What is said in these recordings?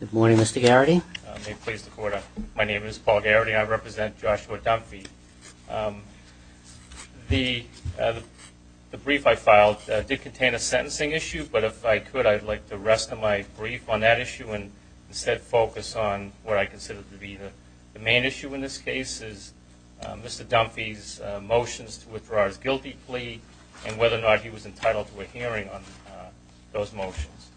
Good morning, Mr. Garrity. May it please the Court, my name is Paul Garrity. I represent Joshua Dunfee. The brief I filed did contain a sentencing issue, but if I could I'd like the rest of my brief on that issue and instead focus on what I consider to be the main issue in this case is Mr. Dunfee's motions to withdraw his guilty plea and whether or not he was entitled to a hearing on those motions.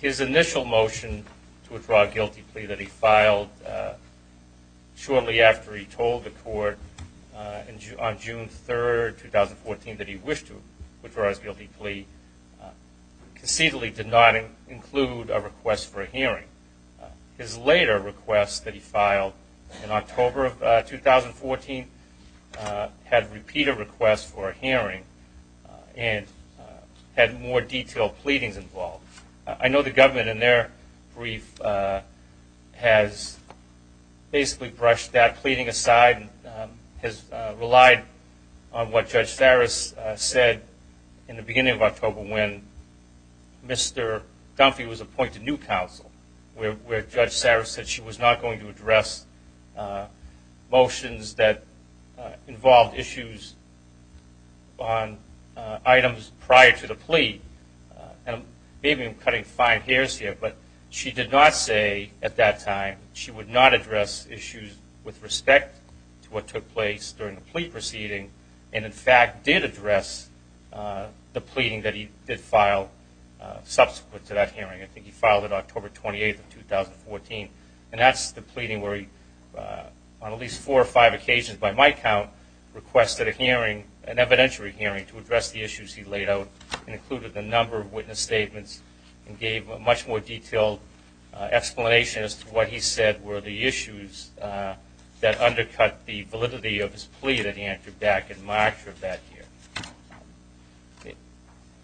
His initial motion to withdraw a guilty plea that he filed shortly after he told the Court on June 3, 2014 that he wished to withdraw his guilty plea conceitually did not include a request for a hearing. His later request that he filed in October of 2014 had repeated requests for a hearing and had more detailed pleadings involved. I know the government in their brief has basically brushed that pleading aside and has relied on what Judge Saris said in the beginning of October when Mr. Dunfee was appointed new counsel where Judge Saris said she was not going to address motions that involved issues on items prior to the plea. Maybe I'm cutting fine hairs here, but she did not say at that time she would not address issues with respect to what took place during the plea proceeding and in fact did address the pleading that he did file subsequent to that hearing. I think he filed it October 28, 2014 and that's the pleading where he on at least four or five occasions by my count requested a hearing, an evidentiary hearing to address the issues he laid out and included the number of witness statements and gave a much more detailed explanation as to what he said were the issues that undercut the validity of his plea that he entered back in March of that year.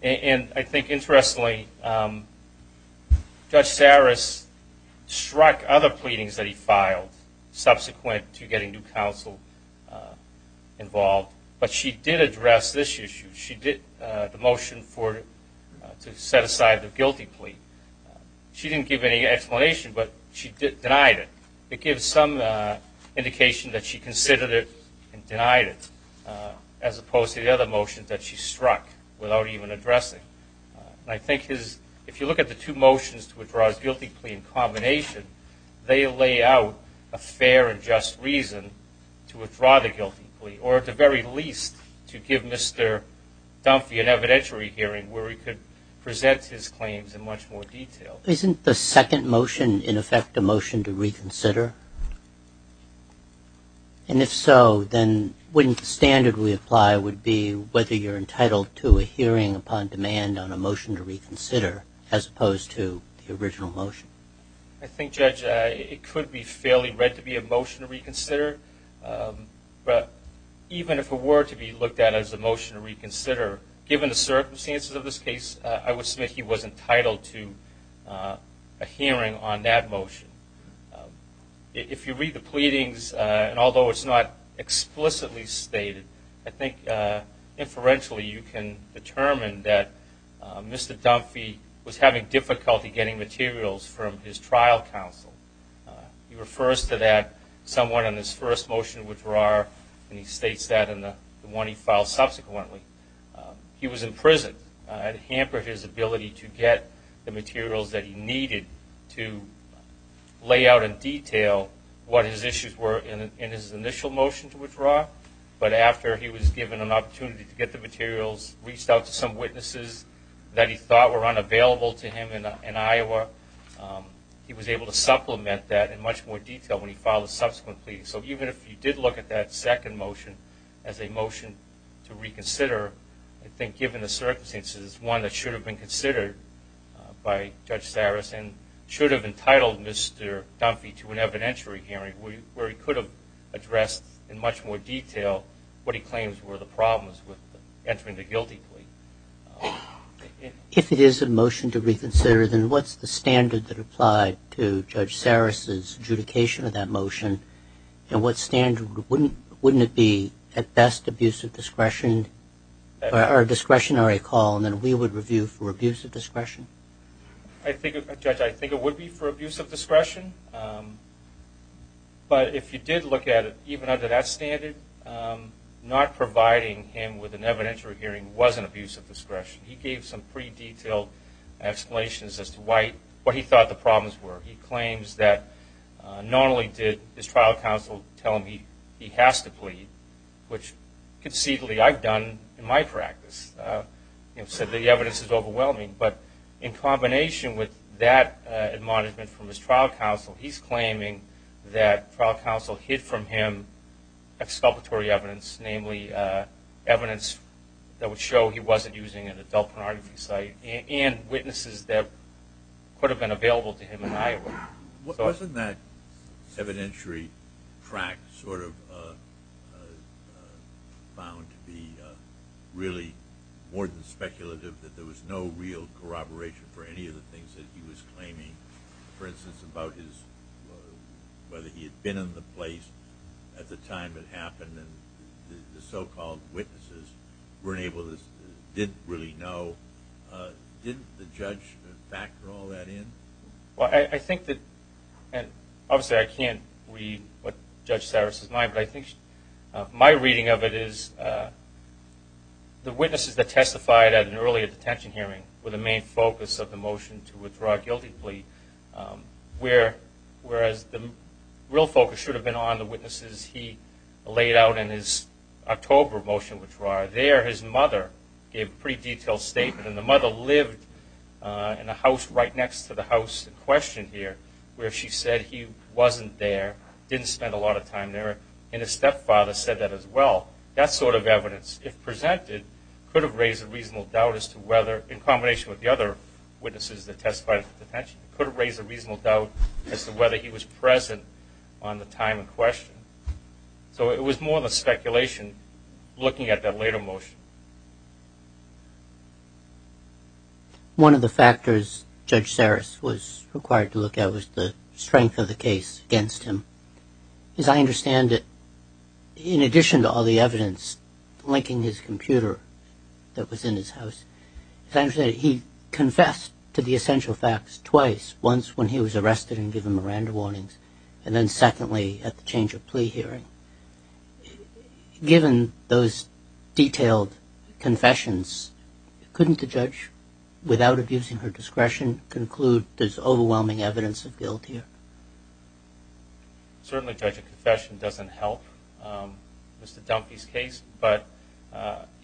And I think interestingly Judge Saris struck other pleadings that he filed subsequent to getting new counsel involved, but she did address this issue. She did the motion to set aside the guilty plea. She didn't give any explanation, but she denied it. It gives some indication that she considered it and denied it as opposed to the other motions that she struck without even addressing. I think his, if you look at the two motions to withdraw his guilty plea in combination, they lay out a fair and just reason to withdraw the guilty plea or at the very least to give Mr. Dunfee an evidentiary hearing where he could present his claims in much more detail. Isn't the second motion in effect a motion to reconsider? And if so, then wouldn't the standard we apply would be whether you're entitled to a hearing upon demand on a motion to reconsider as opposed to the original motion? I think Judge, it could be fairly read to be a motion to reconsider, but even if it were to be looked at as a motion to reconsider, given the circumstances of this case, I would think that he was entitled to a hearing on that motion. If you read the pleadings, and although it's not explicitly stated, I think inferentially you can determine that Mr. Dunfee was having difficulty getting materials from his trial counsel. He refers to that someone in his first motion to withdraw, and he states that in the one he filed subsequently. He was imprisoned. It hampered his ability to get the materials that he needed to lay out in detail what his issues were in his initial motion to withdraw, but after he was given an opportunity to get the materials, reached out to some witnesses that he thought were unavailable to him in Iowa, he was able to supplement that in much more detail when he filed a subsequent plea. So even if you did look at that second motion as a motion to reconsider, I think given the circumstances, one that should have been considered by Judge Saris and should have entitled Mr. Dunfee to an evidentiary hearing where he could have addressed in much more detail what he claims were the problems with entering the guilty plea. If it is a motion to reconsider, then what's the standard that applied to Judge Saris' adjudication of that motion, and what standard, wouldn't it be at best abuse of discretion, or discretionary call, and then we would review for abuse of discretion? I think, Judge, I think it would be for abuse of discretion, but if you did look at it, even under that standard, not providing him with an evidentiary hearing wasn't abuse of discretion. He gave some pretty detailed explanations as to why, what he thought the normally did his trial counsel tell him he has to plead, which conceivably I've done in my practice. You know, so the evidence is overwhelming, but in combination with that admonishment from his trial counsel, he's claiming that trial counsel hid from him exculpatory evidence, namely evidence that would show he wasn't using an adult pornography site, and witnesses that could have been available to him in Iowa. Wasn't that evidentiary fact sort of found to be really more than speculative, that there was no real corroboration for any of the things that he was claiming, for instance, about his, whether he had been in the place at the time it happened, and the so-called witnesses weren't able to, didn't really know? Didn't the judge factor all that in? Well, I think that, and obviously I can't read what Judge Cyrus' mind, but I think my reading of it is the witnesses that testified at an earlier detention hearing were the main focus of the motion to withdraw a guilty plea, whereas the real focus should have been on the witnesses he laid out in his October motion to withdraw. There, his mother gave a pretty robust question here, where she said he wasn't there, didn't spend a lot of time there, and his stepfather said that as well. That sort of evidence, if presented, could have raised a reasonable doubt as to whether, in combination with the other witnesses that testified at detention, could have raised a reasonable doubt as to whether he was present on the time in question. So it was more than speculation looking at that later motion. One of the factors Judge Cyrus was required to look at was the strength of the case against him. As I understand it, in addition to all the evidence linking his computer that was in his house, as I understand it, he confessed to the essential facts twice, once when he was arrested and given Miranda warnings, and then secondly at the change of plea hearing. Given those detailed confessions, couldn't the judge, without abusing her discretion, conclude there's overwhelming evidence of guilt here? Certainly, Judge, a confession doesn't help Mr. Dunphy's case, but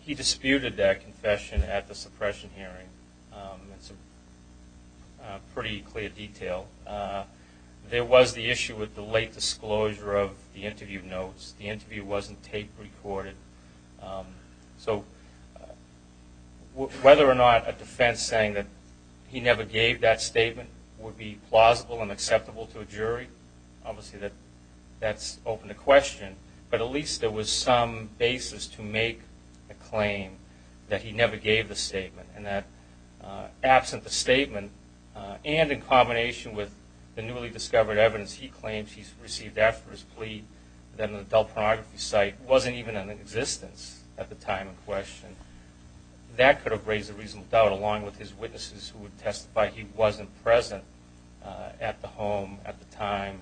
he disputed that confession at the suppression hearing. It's a pretty clear detail. There was the issue with the late disclosure of the interview notes. The interview wasn't tape recorded. So whether or not a defense saying that he never gave that statement would be plausible and acceptable to a jury, obviously that's open to question, but at least there was some basis to make a claim that he never gave the statement, and that absent the statement, and in combination with the newly discovered evidence he claims he received after his plea, that an adult pornography site wasn't even in existence at the time in question, that could have raised a reasonable doubt, along with his witnesses who would testify he wasn't present at the home at the time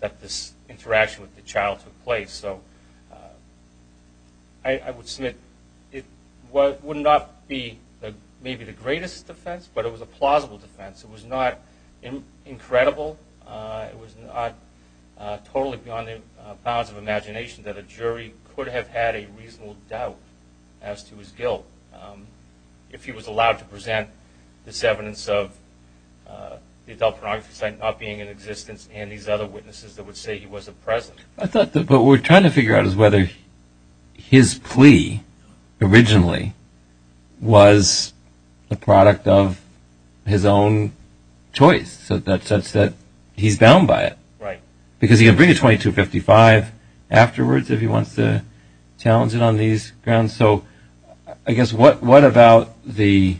that this interaction with the child took place. So I would submit it would not be maybe the greatest defense, but it was a plausible defense. It was not incredible. It was not totally beyond the bounds of imagination that a jury could have had a reasonable doubt as to his guilt if he was allowed to present this evidence of the adult pornography site not being in existence, and these other witnesses that would say he wasn't present. But what we're trying to figure out is whether his plea originally was the product of his own choice, such that he's bound by it. Right. Because he can bring a 2255 afterwards if he wants to challenge it on these grounds. So I guess what about the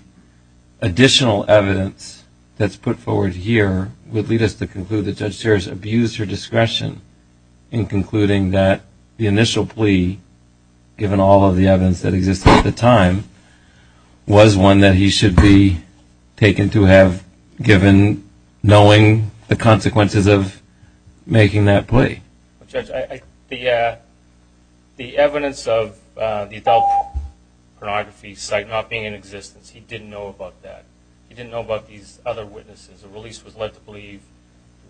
additional evidence that's put forward here would lead us to abuse your discretion in concluding that the initial plea, given all of the evidence that existed at the time, was one that he should be taken to have given knowing the consequences of making that plea. Judge, the evidence of the adult pornography site not being in existence, he didn't know about that. He didn't know about these other witnesses. The release was led to believe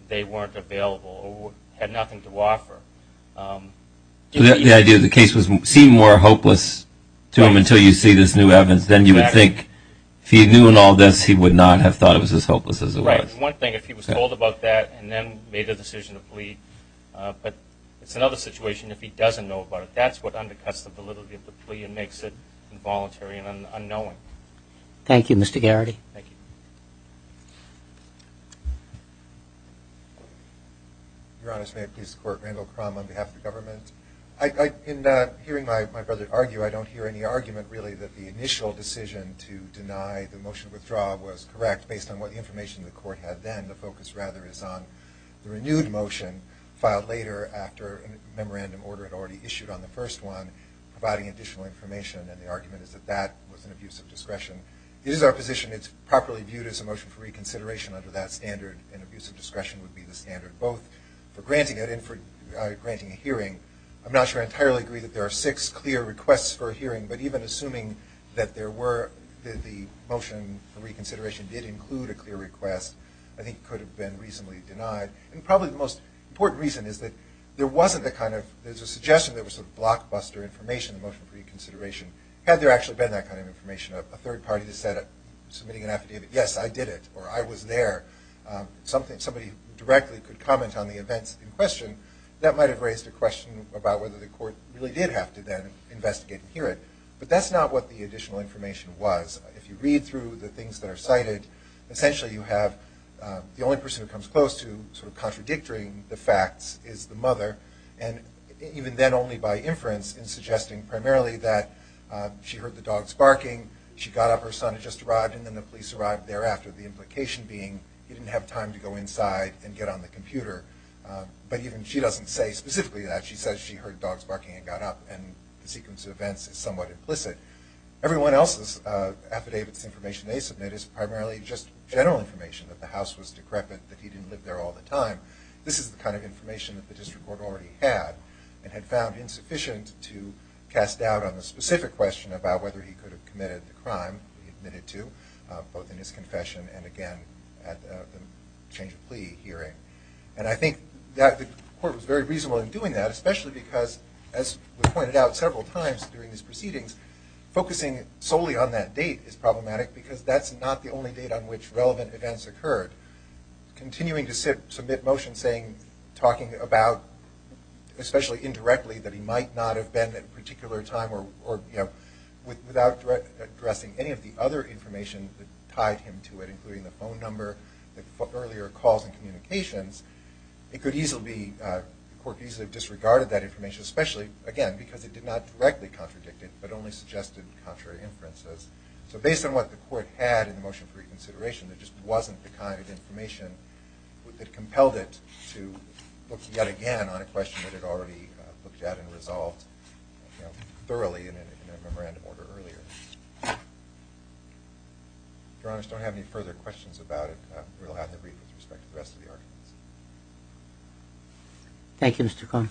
they weren't available or had nothing to offer. The idea that the case seemed more hopeless to him until you see this new evidence, then you would think, if he knew in all this, he would not have thought it was as hopeless as it was. Right. One thing, if he was told about that and then made a decision to plea, but it's another situation if he doesn't know about it. That's what undercuts the validity of the plea and makes it involuntary and unknowing. Thank you, Mr. Garrity. Thank you. Your Honor, may I please support Randall Crum on behalf of the government? In hearing my brother argue, I don't hear any argument, really, that the initial decision to deny the motion of withdrawal was correct based on what information the court had then. The focus, rather, is on the renewed motion filed later after a memorandum order had already issued on the first one providing additional information, and the argument is that that was an abuse of discretion. It is our position it's properly viewed as a motion for reconsideration under that abuse of discretion would be the standard, both for granting it and for granting a hearing. I'm not sure I entirely agree that there are six clear requests for a hearing, but even assuming that there were, that the motion for reconsideration did include a clear request, I think it could have been reasonably denied. And probably the most important reason is that there wasn't the kind of, there's a suggestion there was a blockbuster information in the motion for reconsideration. Had there actually been that kind of information, a third party that said, submitting an affidavit, yes, I did it, or I was there, somebody directly could comment on the events in question, that might have raised a question about whether the court really did have to then investigate and hear it. But that's not what the additional information was. If you read through the things that are cited, essentially you have the only person who comes close to sort of contradicting the facts is the mother, and even then only by inference in suggesting primarily that she heard the dogs barking, she got up, her son had just arrived thereafter, the implication being he didn't have time to go inside and get on the computer. But even she doesn't say specifically that, she says she heard dogs barking and got up and the sequence of events is somewhat implicit. Everyone else's affidavit's information they submit is primarily just general information that the house was decrepit, that he didn't live there all the time. This is the kind of information that the district court already had and had found insufficient he admitted to, both in his confession and again at the change of plea hearing. And I think that the court was very reasonable in doing that, especially because as we pointed out several times during these proceedings, focusing solely on that date is problematic because that's not the only date on which relevant events occurred. Continuing to submit motions talking about, especially indirectly, that he might not have been at a particular time or without addressing any of the other information that tied him to it, including the phone number, the earlier calls and communications, it could easily be, the court could easily have disregarded that information, especially, again, because it did not directly contradict it, but only suggested contrary inferences. So based on what the court had in the motion for reconsideration, there just wasn't the kind of information that compelled it to look yet again on a question that it already looked at and resolved thoroughly in a memorandum order earlier. Your Honor, if you don't have any further questions about it, we'll have the briefings with respect to the rest of the arguments. Thank you, Mr. Cohn.